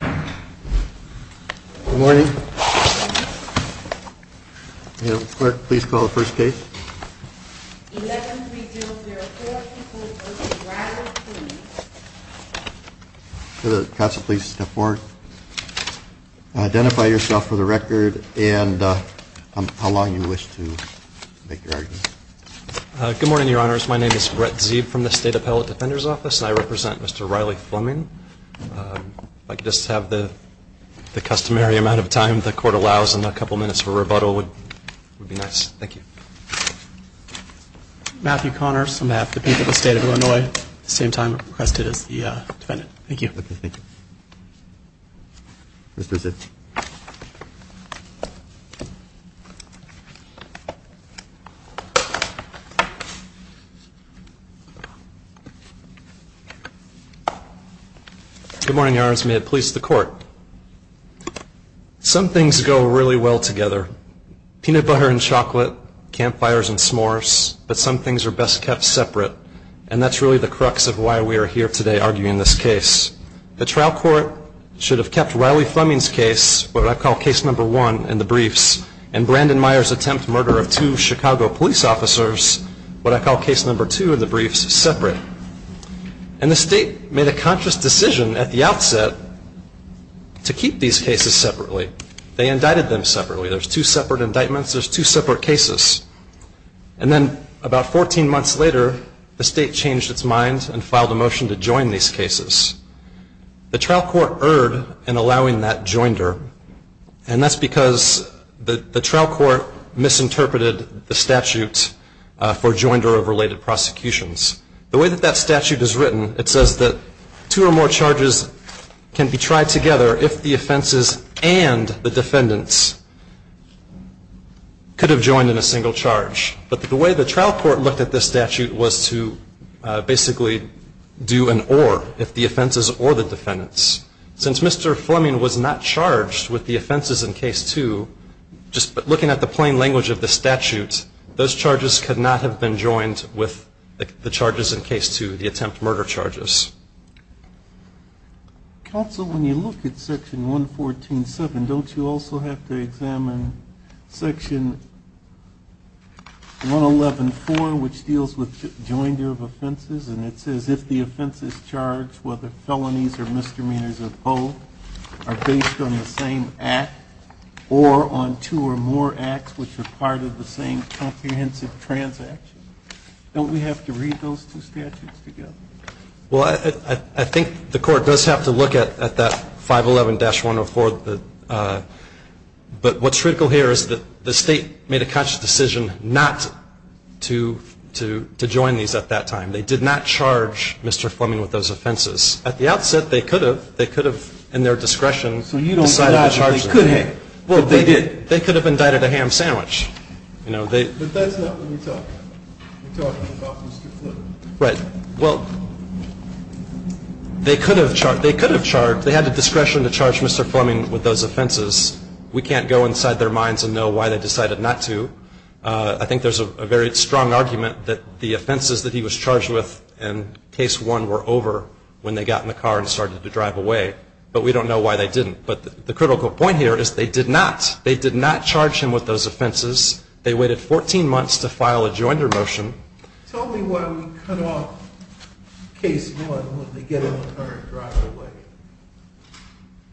Good morning. Clerk, please call the first case. 11-304-2402, Riley Fleming. Counsel, please step forward. Identify yourself for the record and how long you wish to make your argument. Good morning, Your Honors. My name is Brett Zebe from the State Appellate Defender's Office and I represent Mr. Riley Fleming. If I could just have the customary amount of time the Court allows and a couple minutes of rebuttal would be nice. Thank you. Matthew Connors, on behalf of the people of the State of Illinois, at the same time requested as the defendant. Thank you. Okay, thank you. Mr. Zebe. Good morning, Your Honors. May it please the Court. Some things go really well together. Peanut butter and chocolate, campfires and s'mores, but some things are best kept separate. And that's really the crux of why we are here today arguing this case. The trial court should have kept Riley Fleming's case, what I call case number one in the briefs, and Brandon Meyer's attempt murder of two Chicago police officers, what I call case number two in the briefs, separate. And the State made a conscious decision at the outset to keep these cases separately. They indicted them separately. There's two separate indictments. There's two separate cases. And then about 14 months later, the State changed its mind and filed a motion to join these cases. The trial court erred in allowing that joinder. And that's because the trial court misinterpreted the statute for joinder of related prosecutions. The way that that statute is written, it says that two or more charges can be tried together if the offenses and the defendants could have joined in a single charge. But the way the trial court looked at this statute was to basically do an or if the offenses or the defendants. Since Mr. Fleming was not charged with the offenses in case two, just looking at the plain language of the statute, those charges could not have been joined with the charges in case two, the attempt murder charges. Counsel, when you look at section 114.7, don't you also have to examine section 111.4, which deals with joinder of offenses? And it says if the offenses charged, whether felonies or misdemeanors of both, are based on the same act or on two or more acts which are part of the same comprehensive transaction. Don't we have to read those two statutes together? Well, I think the court does have to look at that 511-104, but what's critical here is that the state made a conscious decision not to join these at that time. They did not charge Mr. Fleming with those offenses. At the outset, they could have. They could have, in their discretion, decided to charge him. So you don't indict that they could have, but they did. They could have indicted a ham sandwich. But that's not what we're talking about. We're talking about Mr. Fleming. Right. Well, they could have charged. They could have charged. They had the discretion to charge Mr. Fleming with those offenses. We can't go inside their minds and know why they decided not to. I think there's a very strong argument that the offenses that he was charged with in Case 1 were over when they got in the car and started to drive away, but we don't know why they didn't. But the critical point here is they did not. They did not charge him with those offenses. They waited 14 months to file a joinder motion. Tell me why we cut off Case 1 when they get in the car and drive away.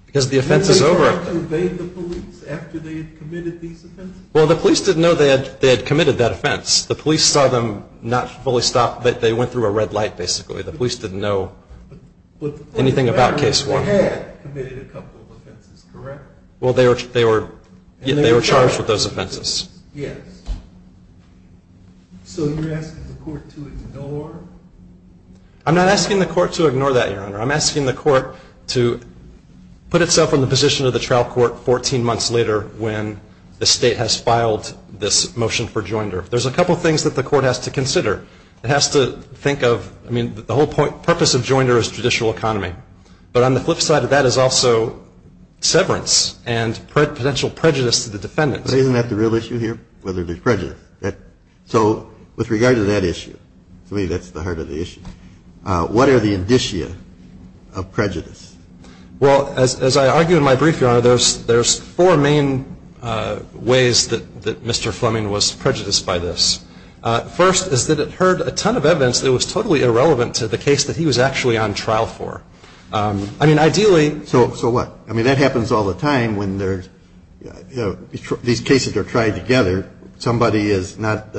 Because the offense is over. Did they try to evade the police after they had committed these offenses? Well, the police didn't know they had committed that offense. The police saw them not fully stop. They went through a red light, basically. The police didn't know anything about Case 1. But the police did know they had committed a couple of offenses, correct? Well, they were charged with those offenses. Yes. So you're asking the court to ignore? I'm not asking the court to ignore that, Your Honor. I'm asking the court to put itself in the position of the trial court 14 months later when the State has filed this motion for joinder. There's a couple of things that the court has to consider. It has to think of, I mean, the whole purpose of joinder is judicial economy. But on the flip side of that is also severance and potential prejudice to the defendant. But isn't that the real issue here, whether there's prejudice? So with regard to that issue, to me that's the heart of the issue. What are the indicia of prejudice? Well, as I argue in my brief, Your Honor, there's four main ways that Mr. Fleming was prejudiced by this. First is that it heard a ton of evidence that was totally irrelevant to the case that he was actually on trial for. I mean, ideally. So what? I mean, that happens all the time when these cases are tried together. Somebody is not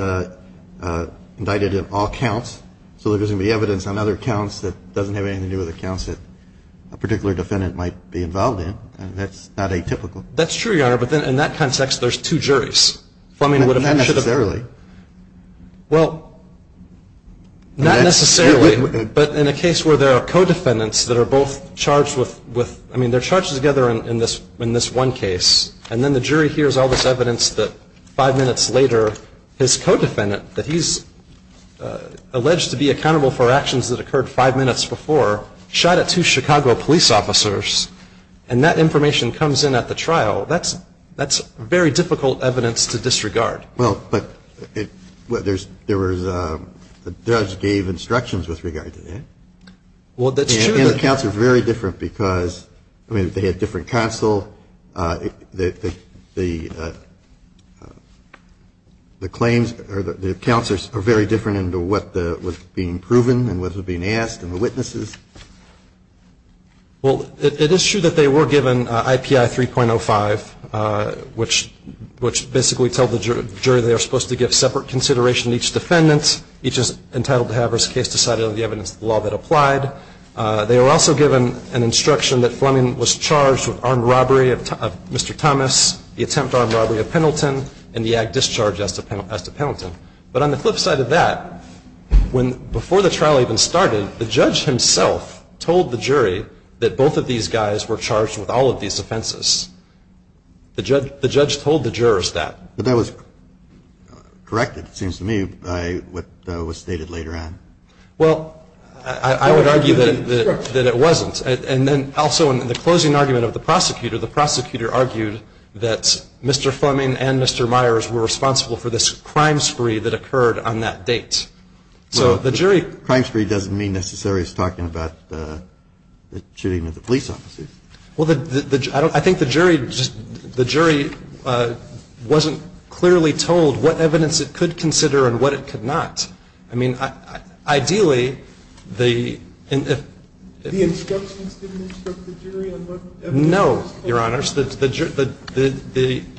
indicted in all counts. So there's going to be evidence on other counts that doesn't have anything to do with the counts that a particular defendant might be involved in. And that's not atypical. That's true, Your Honor. But in that context, there's two juries. Not necessarily. Well, not necessarily. But in a case where there are co-defendants that are both charged with, I mean, they're charged together in this one case. And then the jury hears all this evidence that five minutes later his co-defendant, that he's alleged to be accountable for actions that occurred five minutes before, shot at two Chicago police officers. And that information comes in at the trial. That's very difficult evidence to disregard. Well, but there was the judge gave instructions with regard to that. Well, that's true. And the counts are very different because, I mean, they had different counsel. The claims or the counts are very different in what was being proven and what was being asked and the witnesses. Well, it is true that they were given IPI 3.05, which basically tells the jury they are supposed to give separate consideration to each defendant. Each is entitled to have his case decided on the evidence of the law that applied. They were also given an instruction that Fleming was charged with armed robbery of Mr. Thomas, the attempt armed robbery of Pendleton, and the ag discharge as to Pendleton. But on the flip side of that, before the trial even started, the judge himself told the jury that both of these guys were charged with all of these offenses. The judge told the jurors that. But that was corrected, it seems to me, by what was stated later on. Well, I would argue that it wasn't. And then also in the closing argument of the prosecutor, the prosecutor argued that Mr. Fleming and Mr. Myers were responsible for this crime spree that occurred on that date. So the jury. Crime spree doesn't mean necessarily it's talking about the shooting of the police officers. Well, I think the jury wasn't clearly told what evidence it could consider and what it could not. I mean, ideally the. The instructions didn't instruct the jury on what evidence. But no, Your Honors, the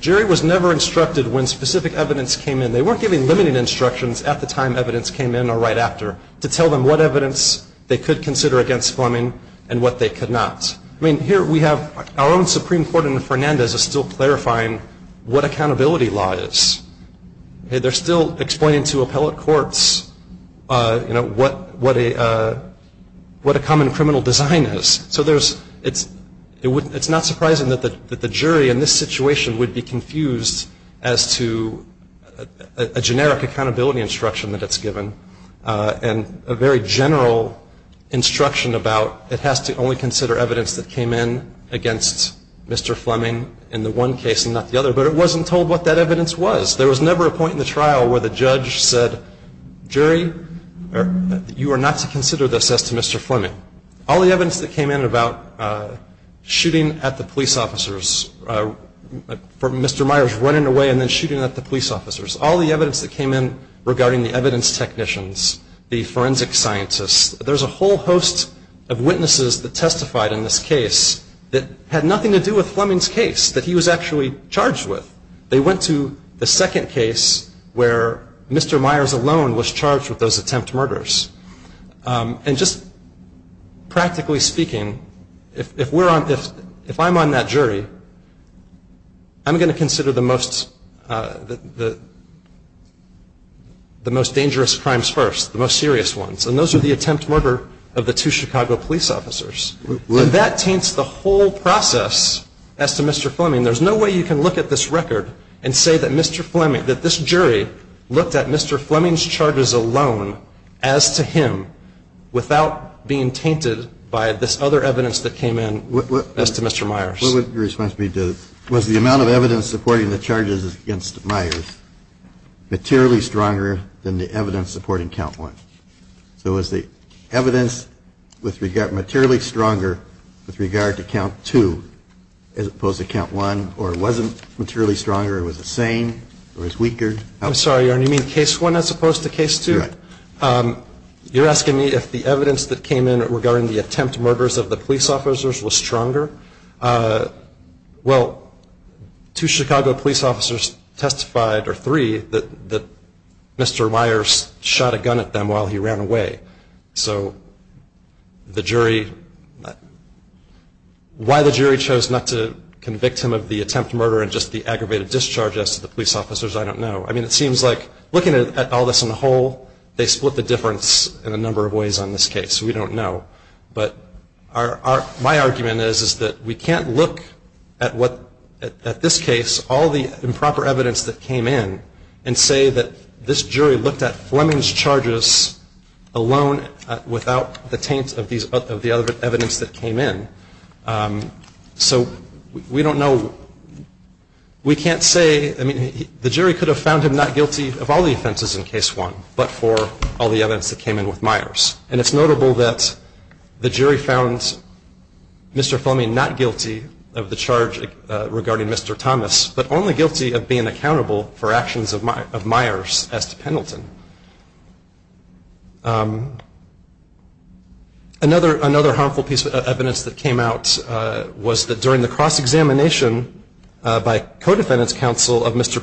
jury was never instructed when specific evidence came in. They weren't given limiting instructions at the time evidence came in or right after to tell them what evidence they could consider against Fleming and what they could not. I mean, here we have our own Supreme Court in Fernandez is still clarifying what accountability law is. They're still explaining to appellate courts, you know, what a common criminal design is. So there's it's it's not surprising that the jury in this situation would be confused as to a generic accountability instruction that it's given. And a very general instruction about it has to only consider evidence that came in against Mr. Fleming in the one case and not the other. But it wasn't told what that evidence was. There was never a point in the trial where the judge said, jury, you are not to consider this as to Mr. Fleming. All the evidence that came in about shooting at the police officers for Mr. Myers running away and then shooting at the police officers. All the evidence that came in regarding the evidence technicians, the forensic scientists. There's a whole host of witnesses that testified in this case that had nothing to do with Fleming's case that he was actually charged with. They went to the second case where Mr. Myers alone was charged with those attempt murders. And just practically speaking, if we're on this, if I'm on that jury, I'm going to consider the most the most dangerous crimes first, the most serious ones. And those are the attempt murder of the two Chicago police officers. That taints the whole process as to Mr. Fleming. There's no way you can look at this record and say that Mr. Fleming, that this jury looked at Mr. Fleming's charges alone as to him without being tainted by this other evidence that came in as to Mr. Myers. Was the amount of evidence supporting the charges against Myers materially stronger than the evidence supporting count one? So is the evidence with regard materially stronger with regard to count two as opposed to count one or wasn't materially stronger? It was the same or is weaker? I'm sorry. You mean case one as opposed to case two? You're asking me if the evidence that came in regarding the attempt murders of the police officers was stronger? Well, two Chicago police officers testified, or three, that Mr. Myers shot a gun at them while he ran away. So the jury, why the jury chose not to convict him of the attempt murder and just the aggravated discharge as to the police officers, I don't know. I mean, it seems like looking at all this on the whole, they split the difference in a number of ways on this case. We don't know. But my argument is that we can't look at this case, all the improper evidence that came in, and say that this jury looked at Fleming's charges alone without the taint of the other evidence that came in. So we don't know. We can't say. I mean, the jury could have found him not guilty of all the offenses in case one but for all the evidence that came in with Myers. And it's notable that the jury found Mr. Fleming not guilty of the charge regarding Mr. Thomas, but only guilty of being accountable for actions of Myers as to Pendleton. Another harmful piece of evidence that came out was that during the cross-examination by co-defendant's counsel of Mr.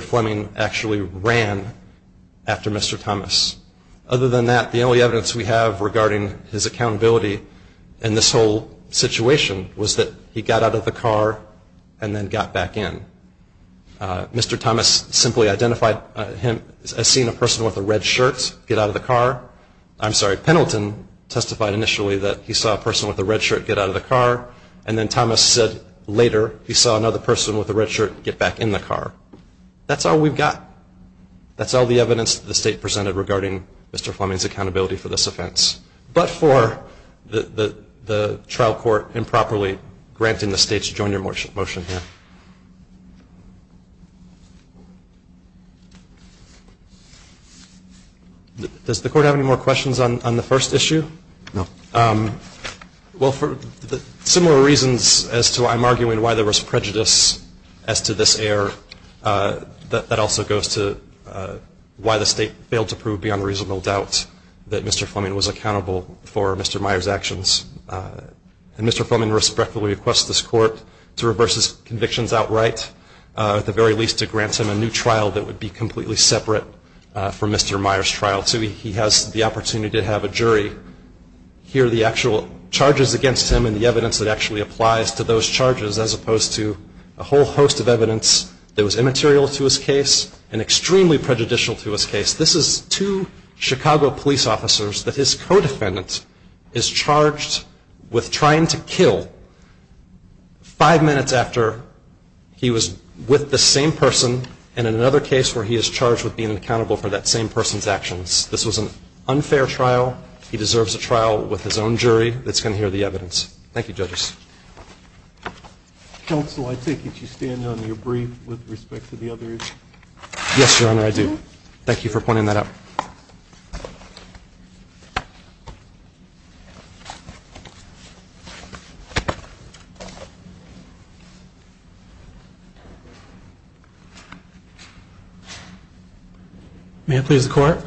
Fleming actually ran after Mr. Thomas. Other than that, the only evidence we have regarding his accountability in this whole situation was that he got out of the car and then got back in. Mr. Thomas simply identified him as seeing a person with a red shirt get out of the car. I'm sorry, Pendleton testified initially that he saw a person with a red shirt get out of the car. And then Thomas said later he saw another person with a red shirt get back in the car. That's all we've got. That's all the evidence the state presented regarding Mr. Fleming's accountability for this offense. But for the trial court improperly granting the state's joint motion here. Does the court have any more questions on the first issue? No. Well, for the similar reasons as to why I'm arguing why there was prejudice as to this error, that also goes to why the state failed to prove beyond reasonable doubt that Mr. Fleming was accountable for Mr. Myers' actions. And Mr. Fleming respectfully requests this court to reverse his convictions outright, at the very least to grant him a new trial that would be completely separate from Mr. Myers' trial. So he has the opportunity to have a jury hear the actual charges against him and the evidence that actually applies to those charges as opposed to a whole host of evidence that was immaterial to his case and extremely prejudicial to his case. This is two Chicago police officers that his co-defendant is charged with trying to kill five minutes after he was with the same person in another case where he is charged with being So he has the opportunity to have a jury hear his actions. This was an unfair trial. He deserves a trial with his own jury that's going to hear the evidence. Thank you, judges. Counsel, I take it you stand on your brief with respect to the other issue. Yes, Your Honor, I do. Thank you for pointing that out. May I please have the court?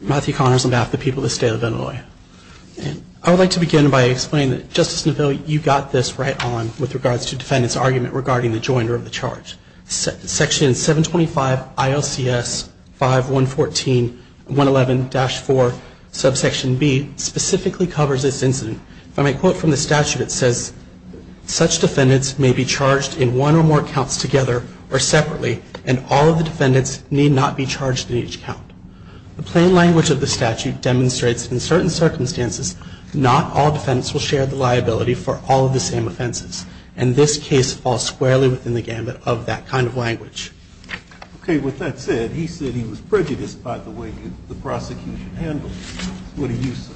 Matthew Connors on behalf of the people of the state of Illinois. I would like to begin by explaining that, Justice Neville, you got this right on with regards to defendant's argument regarding the joinder of the charge. Section 725 ILCS 5114-111-4, subsection B, specifically covers this incident. From a quote from the statute, it says, such defendants may be charged in one or more counts together or separately, and all of the defendants need not be charged in each count. The plain language of the statute demonstrates in certain circumstances, not all defendants will share the liability for all of the same offenses. And this case falls squarely within the gambit of that kind of language. Okay. With that said, he said he was prejudiced by the way the prosecution handled it. What do you say?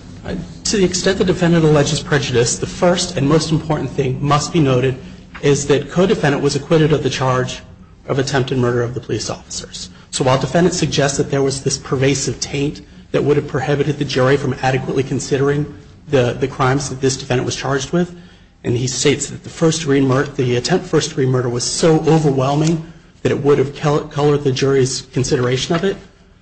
To the extent the defendant alleges prejudice, the first and most important thing must be noted is that co-defendant was acquitted of the charge of attempted murder of the police officers. So while defendants suggest that there was this pervasive taint that would have prohibited the jury from adequately considering the crimes that this defendant was charged with, and he states that the attempt for first degree murder was so overwhelming that it would have colored the jury's consideration of it,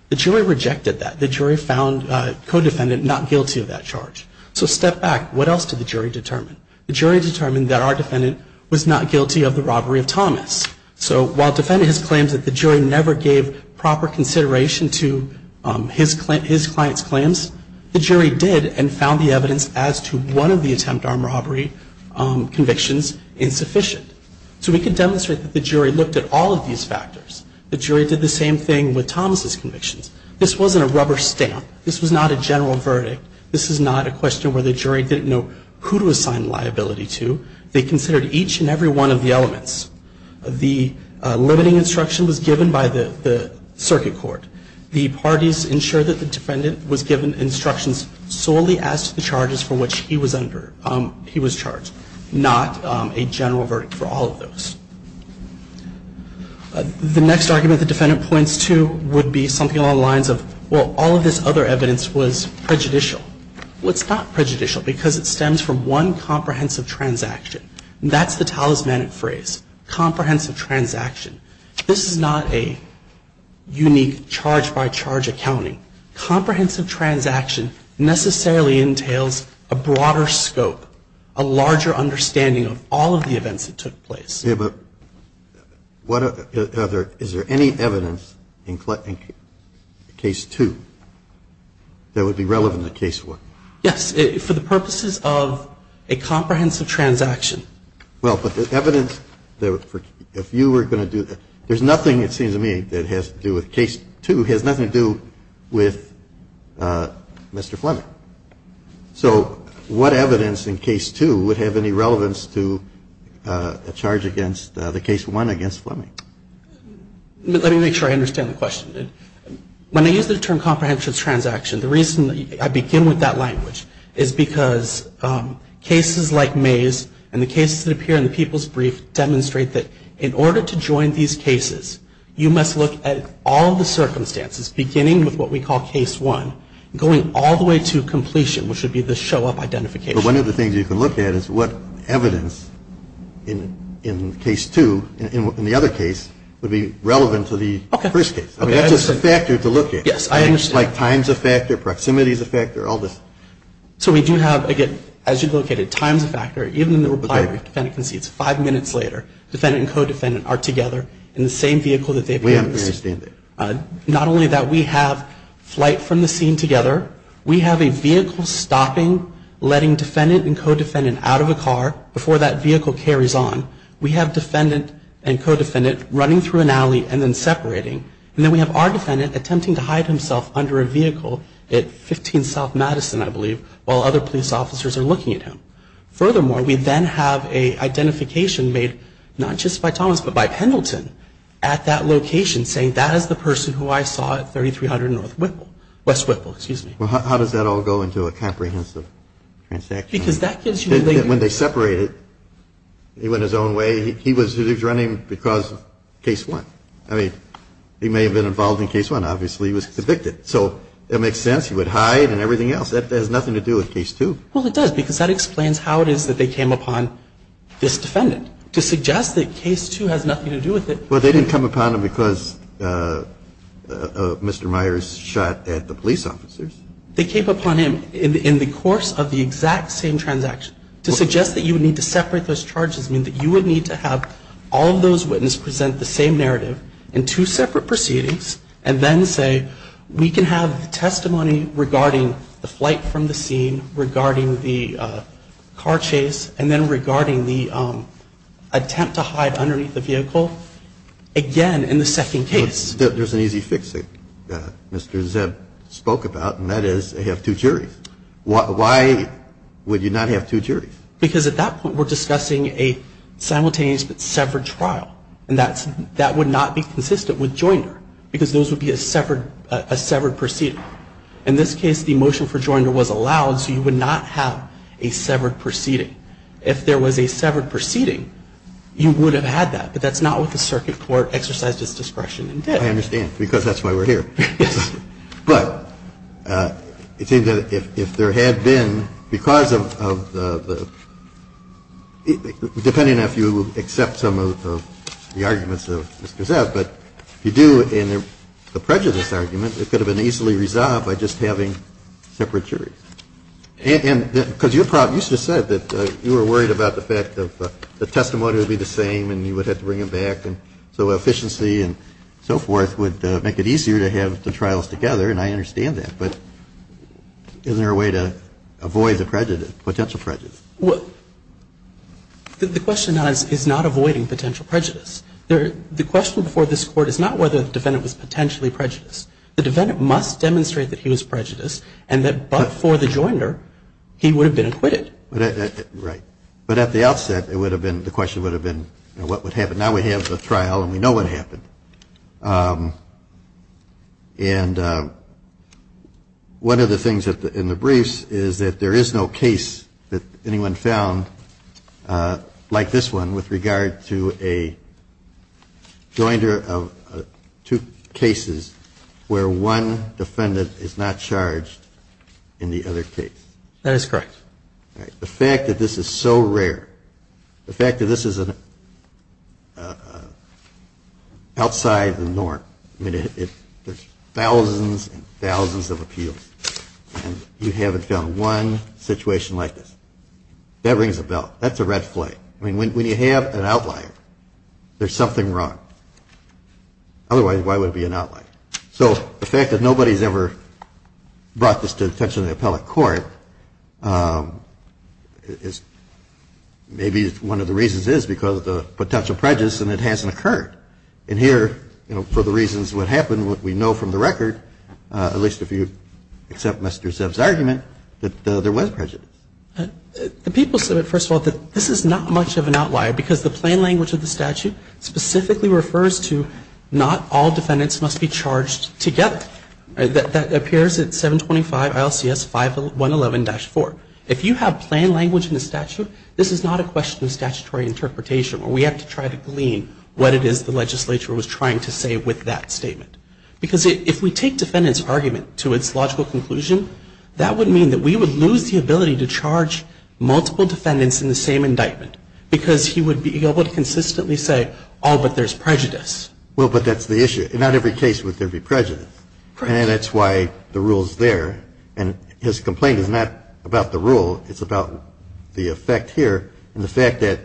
the jury rejected that. The jury found co-defendant not guilty of that charge. So step back. What else did the jury determine? The jury determined that our defendant was not guilty of the robbery of Thomas. So while defendants claims that the jury never gave proper consideration to his client's claims, the jury did and found the evidence as to one of the attempt armed robbery convictions insufficient. So we could demonstrate that the jury looked at all of these factors. The jury did the same thing with Thomas' convictions. This wasn't a rubber stamp. This was not a general verdict. This is not a question where the jury didn't know who to assign liability to. They considered each and every one of the elements. The limiting instruction was given by the circuit court. The parties ensured that the defendant was given instructions solely as to the charges for which he was under, he was charged, not a general verdict for all of those. The next argument the defendant points to would be something along the lines of, well, all of this other evidence was prejudicial. Well, it's not prejudicial because it stems from one comprehensive transaction. That's the talismanic phrase, comprehensive transaction. This is not a unique charge-by-charge accounting. Comprehensive transaction necessarily entails a broader scope, a larger understanding of all of the events that took place. But is there any evidence in case 2 that would be relevant to case 1? Yes. For the purposes of a comprehensive transaction. Well, but the evidence, if you were going to do that, there's nothing, it seems to me, that has to do with case 2. It has nothing to do with Mr. Fleming. So what evidence in case 2 would have any relevance to a charge against the case 1 against Fleming? Let me make sure I understand the question. When I use the term comprehensive transaction, the reason I begin with that language is because cases like May's and the cases that appear in the People's Brief demonstrate that in order to join these cases, you must look at all the circumstances beginning with what we call case 1, going all the way to completion, which would be the show-up identification. But one of the things you can look at is what evidence in case 2, in the other case, would be relevant to the first case. Okay. I mean, that's just a factor to look at. Yes, I understand. Like time's a factor, proximity's a factor, all this. So we do have, again, as you've located, time's a factor. Even in the reply brief, the defendant concedes. Five minutes later, defendant and co-defendant are together in the same vehicle that they've used. We understand that. Not only that we have flight from the scene together, we have a vehicle stopping, letting defendant and co-defendant out of a car before that vehicle carries on. We have defendant and co-defendant running through an alley and then separating. And then we have our defendant attempting to hide himself under a vehicle at 15 South Madison, I believe, while other police officers are looking at him. Furthermore, we then have an identification made not just by Thomas but by Pendleton at that location saying that is the person who I saw at 3300 West Whitwell. Well, how does that all go into a comprehensive transaction? Because that gives you the link. When they separated, he went his own way. He was running because of Case 1. I mean, he may have been involved in Case 1. Obviously, he was convicted. So it makes sense. He would hide and everything else. That has nothing to do with Case 2. Well, it does because that explains how it is that they came upon this defendant to suggest that Case 2 has nothing to do with it. Well, they didn't come upon him because Mr. Myers shot at the police officers. They came upon him in the course of the exact same transaction. To suggest that you would need to separate those charges means that you would need to have all of those witnesses present the same narrative in two separate proceedings and then say we can have testimony regarding the flight from the scene, regarding the car chase, and then regarding the attempt to hide underneath the vehicle again in the second case. There's an easy fix that Mr. Zebb spoke about, and that is they have two juries. Why would you not have two juries? Because at that point, we're discussing a simultaneous but severed trial. And that would not be consistent with Joinder because those would be a severed proceeding. In this case, the motion for Joinder was allowed so you would not have a severed proceeding. If there was a severed proceeding, you would have had that, but that's not what the circuit court exercised its discretion and did. I understand because that's why we're here. Yes. But it seems that if there had been, because of the – depending on if you accept some of the arguments of Mr. Zebb, but if you do in the prejudice argument, it could have been easily resolved by just having separate juries. And because you said that you were worried about the fact that the testimony would be the same and you would have to bring them back, and so efficiency and so forth would make it easier to have the trials together, and I understand that. But is there a way to avoid the prejudice, potential prejudice? Well, the question is not avoiding potential prejudice. The question before this Court is not whether the defendant was potentially prejudiced. The defendant must demonstrate that he was prejudiced and that but for the joinder, he would have been acquitted. Right. But at the outset, it would have been, the question would have been what would happen. Now we have the trial and we know what happened. And one of the things in the briefs is that there is no case that anyone found like this one with regard to a joinder of two cases where one defendant is not charged in the other case. That is correct. All right. The fact that this is so rare, the fact that this is outside the norm, I mean, there's thousands and thousands of appeals, and you haven't found one situation like this. That rings a bell. That's a red flag. I mean, when you have an outlier, there's something wrong. Otherwise, why would it be an outlier? So the fact that nobody's ever brought this to the attention of the appellate court is maybe one of the reasons is because of the potential prejudice and it hasn't occurred. And here, you know, for the reasons what happened, what we know from the record, at least if you accept Mr. Zeb's argument, that there was prejudice. The people said, first of all, that this is not much of an outlier because the plain language of the statute specifically refers to not all defendants must be charged together. That appears at 725 ILCS 5111-4. If you have plain language in the statute, this is not a question of statutory interpretation where we have to try to glean what it is the legislature was trying to say with that statement. Because if we take defendant's argument to its logical conclusion, that would mean that we would lose the ability to charge multiple defendants in the same indictment. Because he would be able to consistently say, oh, but there's prejudice. Well, but that's the issue. In not every case would there be prejudice. And that's why the rule's there. And his complaint is not about the rule. It's about the effect here and the fact that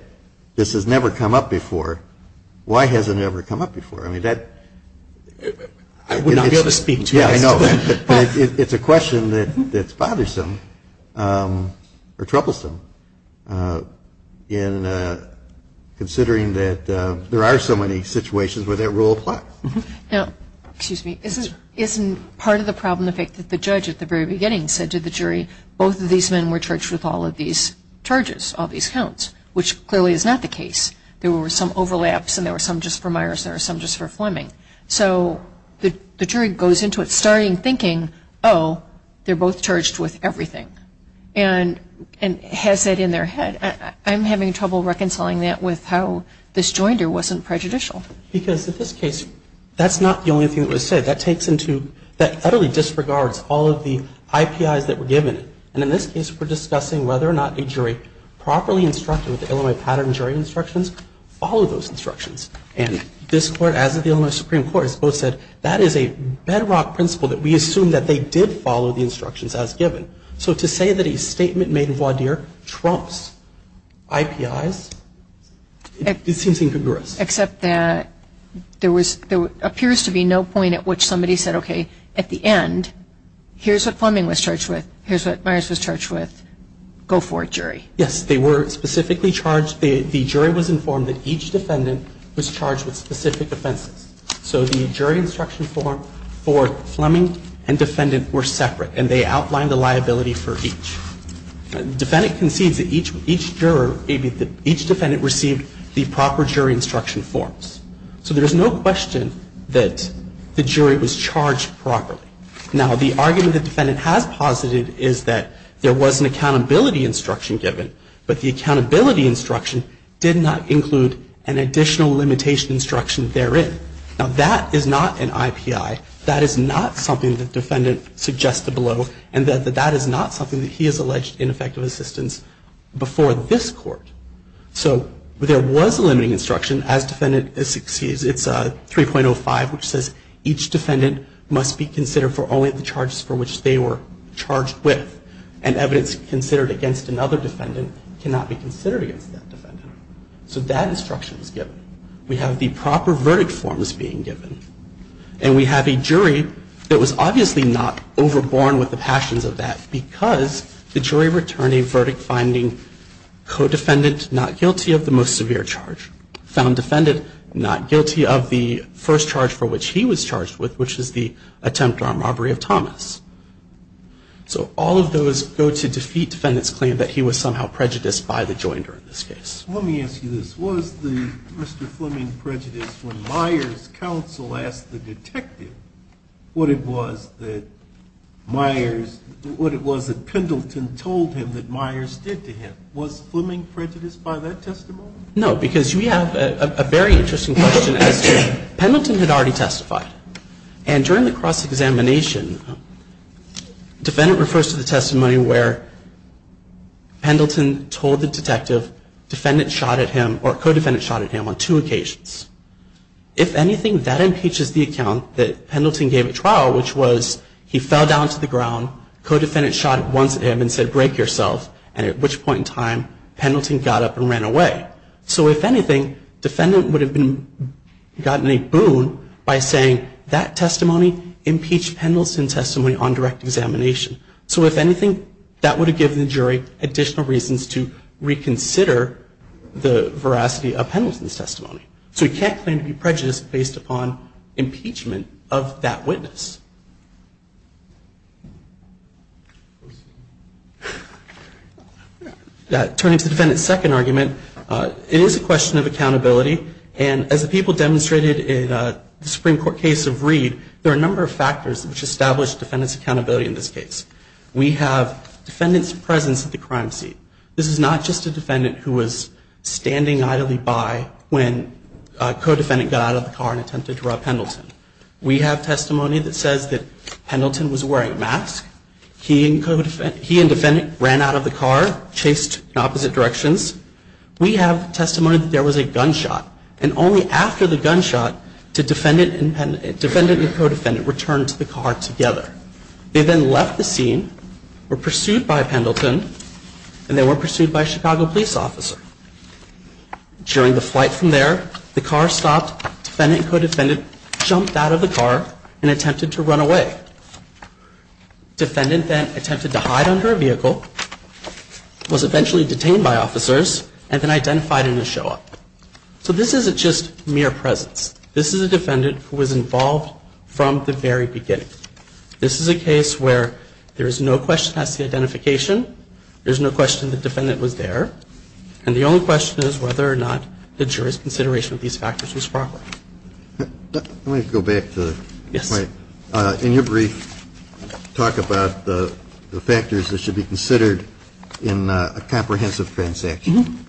this has never come up before. Why has it never come up before? I mean, that — I would not be able to speak to that. Yeah, I know. But it's a question that's bothersome or troublesome in considering that there are so many situations where that rule applies. Now, excuse me, isn't part of the problem the fact that the judge at the very beginning said to the jury, both of these men were charged with all of these charges, all these counts, which clearly is not the case. There were some overlaps and there were some just for Meyers and there were some just for Fleming. So the jury goes into it starting thinking, oh, they're both charged with everything. And has that in their head. I'm having trouble reconciling that with how this joinder wasn't prejudicial. Because in this case, that's not the only thing that was said. That takes into — that utterly disregards all of the IPIs that were given. And in this case, we're discussing whether or not a jury properly instructed with the Illinois pattern jury instructions followed those instructions. And this Court, as of the Illinois Supreme Court, has both said, that is a bedrock principle that we assume that they did follow the instructions as given. So to say that a statement made in voir dire trumps IPIs, it seems incongruous. Except that there was — there appears to be no point at which somebody said, okay, at the end, here's what Fleming was charged with. Here's what Meyers was charged with. Go for it, jury. Yes, they were specifically charged — the jury was informed that each defendant was charged with specific offenses. So the jury instruction form for Fleming and defendant were separate, and they outlined the liability for each. The defendant concedes that each juror — each defendant received the proper jury instruction forms. So there's no question that the jury was charged properly. Now, the argument the defendant has posited is that there was an accountability instruction given, but the accountability instruction did not include an additional limitation instruction therein. Now, that is not an IPI. That is not something the defendant suggested below, and that is not something that he has alleged ineffective assistance before this Court. So there was a limiting instruction, as defendant — it's 3.05, which says, each defendant must be considered for only the charges for which they were charged with, and evidence considered against another defendant cannot be considered against that defendant. So that instruction was given. We have the proper verdict forms being given. And we have a jury that was obviously not overborne with the passions of that because the jury returned a verdict finding co-defendant not guilty of the most severe charge, found defendant not guilty of the first charge for which he was charged with, which is the attempt on robbery of Thomas. So all of those go to defeat defendant's claim that he was somehow prejudiced by the joinder in this case. Let me ask you this. Was the Mr. Fleming prejudiced when Myers' counsel asked the detective what it was that Myers — what it was that Pendleton told him that Myers did to him? Was Fleming prejudiced by that testimony? No, because you have a very interesting question as to — Pendleton had already defendant refers to the testimony where Pendleton told the detective defendant shot at him or co-defendant shot at him on two occasions. If anything, that impeaches the account that Pendleton gave at trial, which was he fell down to the ground, co-defendant shot once at him and said, break yourself, and at which point in time Pendleton got up and ran away. So if anything, defendant would have been — gotten a boon by saying that Pendleton's testimony impeached Pendleton's testimony on direct examination. So if anything, that would have given the jury additional reasons to reconsider the veracity of Pendleton's testimony. So he can't claim to be prejudiced based upon impeachment of that witness. Turning to defendant's second argument, it is a question of accountability, and as the people demonstrated in the Supreme Court case of Reed, there are a number of factors which establish defendant's accountability in this case. We have defendant's presence at the crime scene. This is not just a defendant who was standing idly by when a co-defendant got out of the car and attempted to rob Pendleton. We have testimony that says that Pendleton was wearing a mask. He and defendant ran out of the car, chased in opposite directions. We have testimony that there was a gunshot, and only after the gunshot, did defendant and co-defendant return to the car together. They then left the scene, were pursued by Pendleton, and they were pursued by a Chicago police officer. During the flight from there, the car stopped, defendant and co-defendant jumped out of the car and attempted to run away. Defendant then attempted to hide under a vehicle, was eventually detained by officers, and then identified in a show-up. So this isn't just mere presence. This is a defendant who was involved from the very beginning. This is a case where there is no question as to the identification, there's no question the defendant was there, and the only question is whether or not the jury's consideration of these factors was proper. Let me go back to the point. In your brief, you talk about the factors that should be considered in a comprehensive transaction.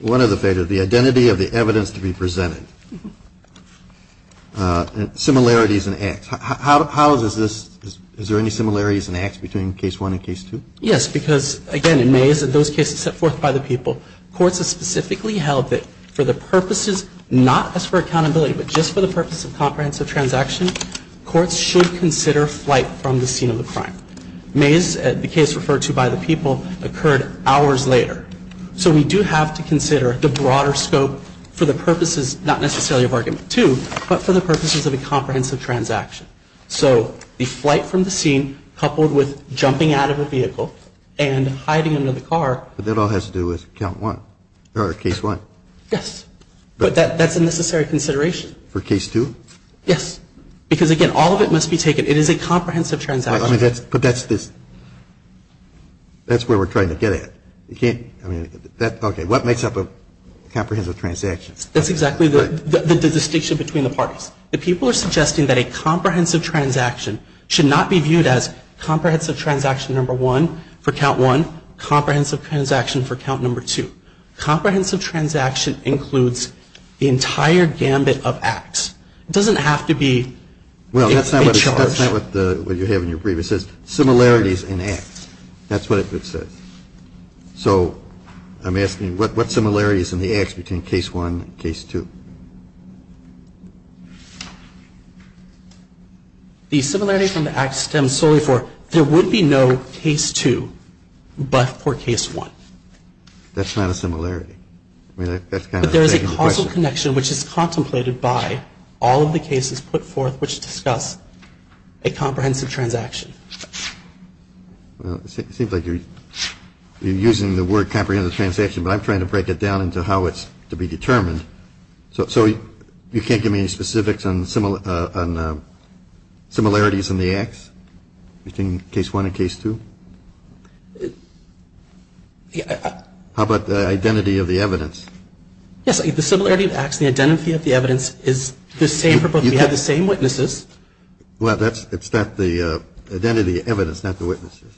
One of the factors, the identity of the evidence to be presented. Similarities in acts. How is this, is there any similarities in acts between Case 1 and Case 2? Yes, because again, in May, those cases set forth by the people, courts have specifically held that for the purposes, not as for accountability, but just for the purpose of comprehensive transaction, courts should consider flight from the scene of the crime. Mays, the case referred to by the people, occurred hours later. So we do have to consider the broader scope for the purposes, not necessarily of Argument 2, but for the purposes of a comprehensive transaction. So the flight from the scene coupled with jumping out of a vehicle and hiding under the car. But that all has to do with Count 1, or Case 1. Yes. But that's a necessary consideration. For Case 2? Yes. Because again, all of it must be taken, it is a comprehensive transaction. But that's this, that's where we're trying to get at. You can't, I mean, that, okay, what makes up a comprehensive transaction? That's exactly the distinction between the parties. The people are suggesting that a comprehensive transaction should not be viewed as comprehensive transaction number 1 for Count 1, comprehensive transaction for Count number 2. Comprehensive transaction includes the entire gambit of acts. It doesn't have to be a charge. Well, that's not what you have in your brief. It says similarities in acts. That's what it says. So I'm asking, what similarities in the acts between Case 1 and Case 2? The similarity from the acts stems solely for there would be no Case 2 but for Case 1. That's not a similarity. But there is a causal connection which is contemplated by all of the cases put forth which discuss a comprehensive transaction. Well, it seems like you're using the word comprehensive transaction, but I'm trying to break it down into how it's to be determined. So you can't give me specifics on similarities in the acts between Case 1 and Case 2? How about the identity of the evidence? Yes, the similarity of acts, the identity of the evidence is the same for both. We have the same witnesses. Well, it's not the identity of evidence, not the witnesses.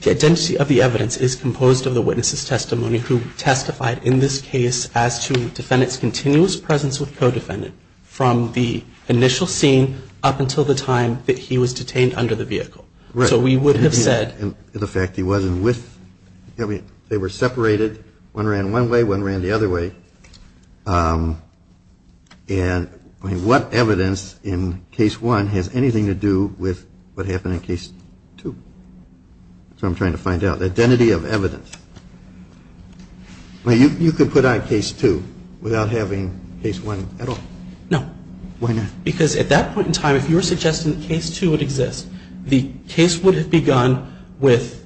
The identity of the evidence is composed of the witness's testimony who testified in this case as to the defendant's continuous presence with co-defendant from the initial scene up until the time that he was detained under the vehicle. Right. So we would have said. And the fact he wasn't with. They were separated. One ran one way, one ran the other way. And what evidence in Case 1 has anything to do with what happened in Case 2? That's what I'm trying to find out, the identity of evidence. You could put on Case 2 without having Case 1 at all. No. Why not? Because at that point in time, if you were suggesting that Case 2 would exist, the case would have begun with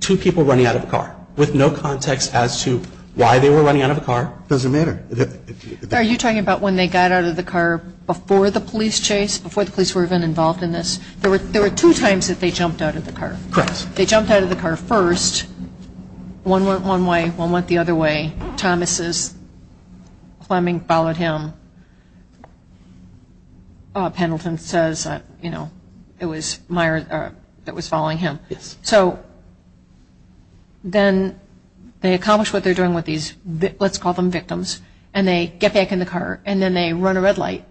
two people running out of a car, with no context as to why they were running out of a car. It doesn't matter. Are you talking about when they got out of the car before the police chase, before the police were even involved in this? There were two times that they jumped out of the car. Correct. They jumped out of the car first. One went one way, one went the other way. Thomas's plumbing followed him. Pendleton says, you know, it was Meyer that was following him. Yes. So then they accomplish what they're doing with these, let's call them victims, and they get back in the car and then they run a red light.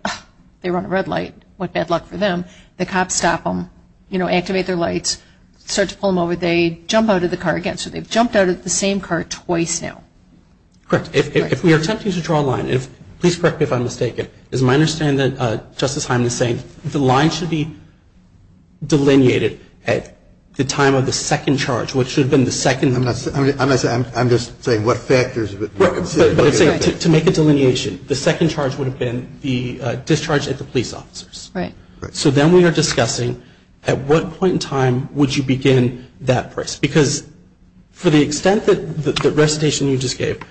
They run a red light, what bad luck for them. The cops stop them, you know, activate their lights, start to pull them over. They jump out of the car again. So they've jumped out of the same car twice now. Correct. If we are attempting to draw a line, please correct me if I'm mistaken, is my understanding that Justice Hyman is saying the line should be delineated at the time of the second charge, which should have been the second. I'm just saying what factors. To make a delineation, the second charge would have been the discharge at the police officers. Right. So then we are discussing at what point in time would you begin that process because for the extent that the recitation you just gave,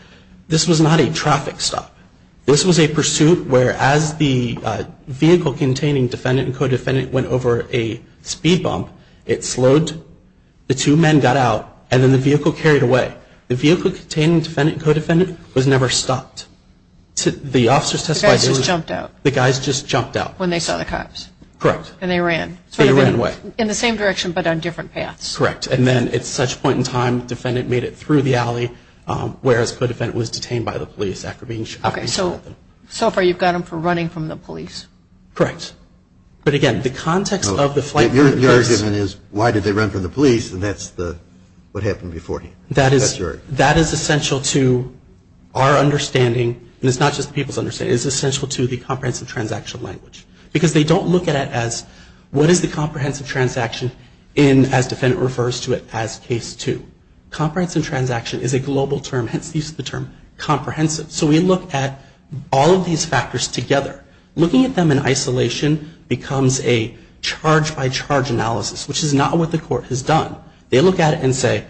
this was not a traffic stop. This was a pursuit where as the vehicle containing defendant and co-defendant went over a speed bump, it slowed, the two men got out, and then the vehicle carried away. The vehicle containing defendant and co-defendant was never stopped. The officers testified. The guys just jumped out. The guys just jumped out. When they saw the cops. Correct. And they ran. They ran away. In the same direction but on different paths. Correct. And then at such point in time, defendant made it through the alley, whereas co-defendant was detained by the police after being shot at. Okay. So far you've got them for running from the police. Correct. But, again, the context of the flight... Your argument is why did they run from the police, and that's what happened before. That is essential to our understanding, and it's not just the people's understanding. It's essential to the comprehensive transaction language because they don't look at it as what is the comprehensive transaction as defendant refers to it as case two. Comprehensive transaction is a global term, hence the use of the term comprehensive. So we look at all of these factors together. Looking at them in isolation becomes a charge-by-charge analysis, which is not what the court has done. They look at it and say,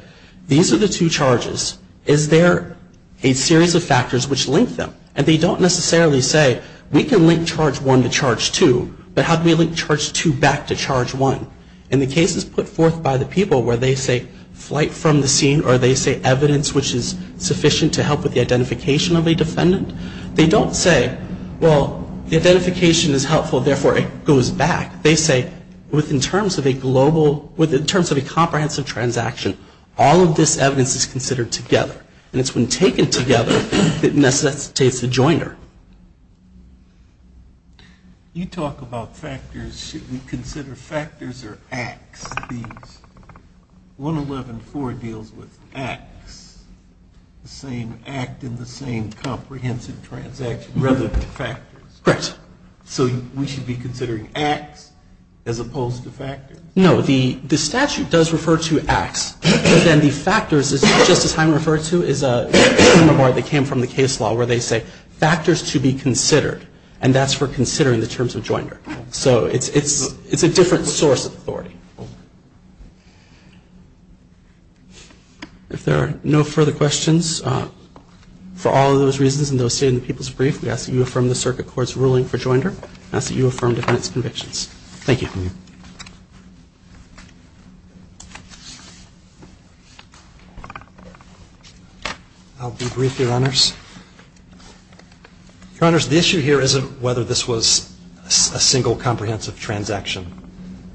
these are the two charges. Is there a series of factors which link them? And they don't necessarily say, we can link charge one to charge two, but how do we link charge two back to charge one? In the cases put forth by the people where they say flight from the scene or they say evidence which is sufficient to help with the identification of a defendant, they don't say, well, the identification is helpful, therefore it goes back. They say, in terms of a comprehensive transaction, all of this evidence is considered together. And it's when taken together that necessitates a jointer. You talk about factors. Should we consider factors or acts? 111-4 deals with acts, the same act in the same comprehensive transaction rather than factors. Correct. So we should be considering acts as opposed to factors? No, the statute does refer to acts, but then the factors, just as Jaime referred to, is a framework that came from the case law where they say factors to be considered, and that's for considering the terms of jointer. So it's a different source of authority. If there are no further questions, for all of those reasons and those stated in the people's brief, we ask that you affirm the circuit court's ruling for jointer. We ask that you affirm defendant's convictions. Thank you. I'll be brief, Your Honors. Your Honors, the issue here isn't whether this was a single comprehensive transaction,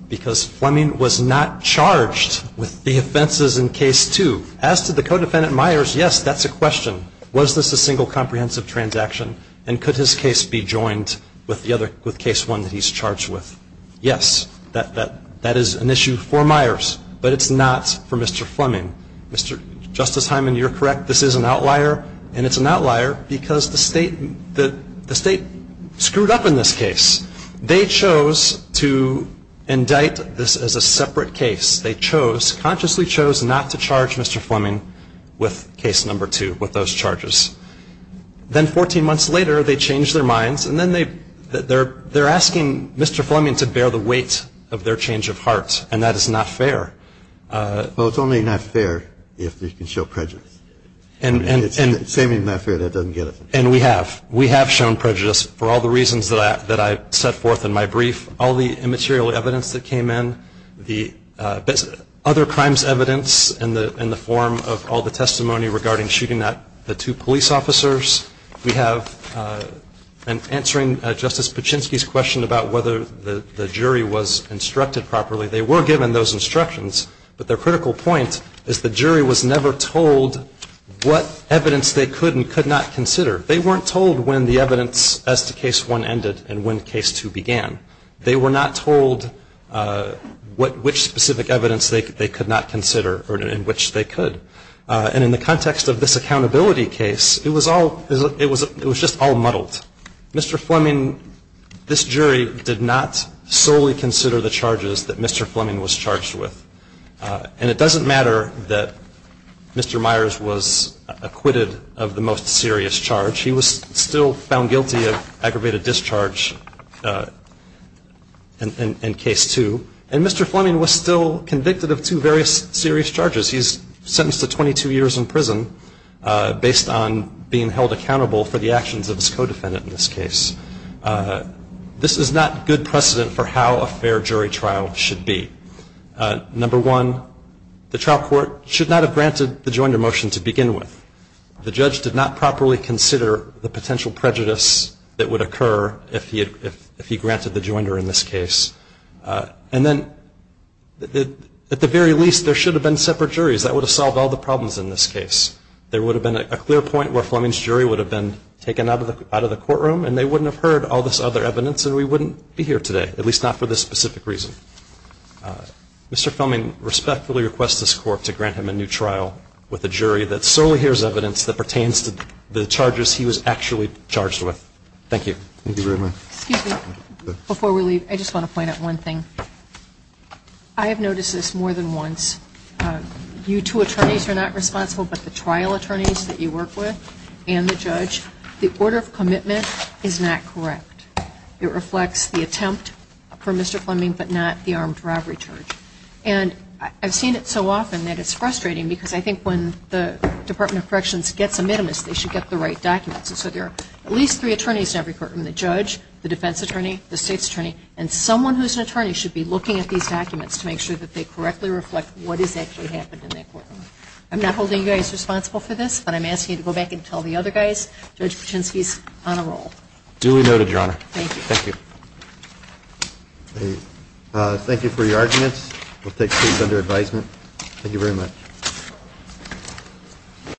because Fleming was not charged with the offenses in Case 2. As to the co-defendant Myers, yes, that's a question. Was this a single comprehensive transaction, and could his case be joined with Case 1 that he's charged with? Yes, that is an issue for Myers, but it's not for Mr. Fleming. Justice Hyman, you're correct, this is an outlier, and it's an outlier because the state screwed up in this case. They chose to indict this as a separate case. They consciously chose not to charge Mr. Fleming with Case 2, with those charges. Then 14 months later, they changed their minds, and then they're asking Mr. Fleming to bear the weight of their change of heart, and that is not fair. Well, it's only not fair if you can show prejudice. It's the same as not fair that doesn't get it. And we have. We have shown prejudice for all the reasons that I set forth in my brief, all the immaterial evidence that came in, the other crimes evidence in the form of all the testimony regarding shooting at the two police officers. We have, in answering Justice Paczynski's question about whether the jury was instructed properly, they were given those instructions, but their critical point is the jury was never told what evidence they could and could not consider. They weren't told when the evidence as to Case 1 ended and when Case 2 began. They were not told which specific evidence they could not consider or in which they could. And in the context of this accountability case, it was just all muddled. Mr. Fleming, this jury, did not solely consider the charges that Mr. Fleming was charged with. And it doesn't matter that Mr. Myers was acquitted of the most serious charge. He was still found guilty of aggravated discharge in Case 2. And Mr. Fleming was still convicted of two very serious charges. He's sentenced to 22 years in prison based on being held accountable for the actions of his co-defendant in this case. This is not good precedent for how a fair jury trial should be. Number one, the trial court should not have granted the joiner motion to begin with. The judge did not properly consider the potential prejudice that would occur if he granted the joiner in this case. And then at the very least, there should have been separate juries. That would have solved all the problems in this case. There would have been a clear point where Fleming's jury would have been taken out of the courtroom and they wouldn't have heard all this other evidence and we wouldn't be here today, at least not for this specific reason. Mr. Fleming respectfully requests this court to grant him a new trial with a new jury. And I think this is evidence that pertains to the charges he was actually charged with. Thank you. Thank you very much. Excuse me. Before we leave, I just want to point out one thing. I have noticed this more than once. You two attorneys are not responsible, but the trial attorneys that you work with and the judge, the order of commitment is not correct. It reflects the attempt for Mr. Fleming, but not the armed robbery charge. And I've seen it so often that it's frustrating because I think when the Department of Corrections gets a minimist, they should get the right documents. And so there are at least three attorneys in every courtroom, the judge, the defense attorney, the state's attorney, and someone who's an attorney should be looking at these documents to make sure that they correctly reflect what has actually happened in that courtroom. I'm not holding you guys responsible for this, but I'm asking you to go back and tell the other guys, Judge Patrinsky's on a roll. Duly noted, Your Honor. Thank you. Thank you. Thank you for your arguments. We'll take case under advisement. Thank you very much.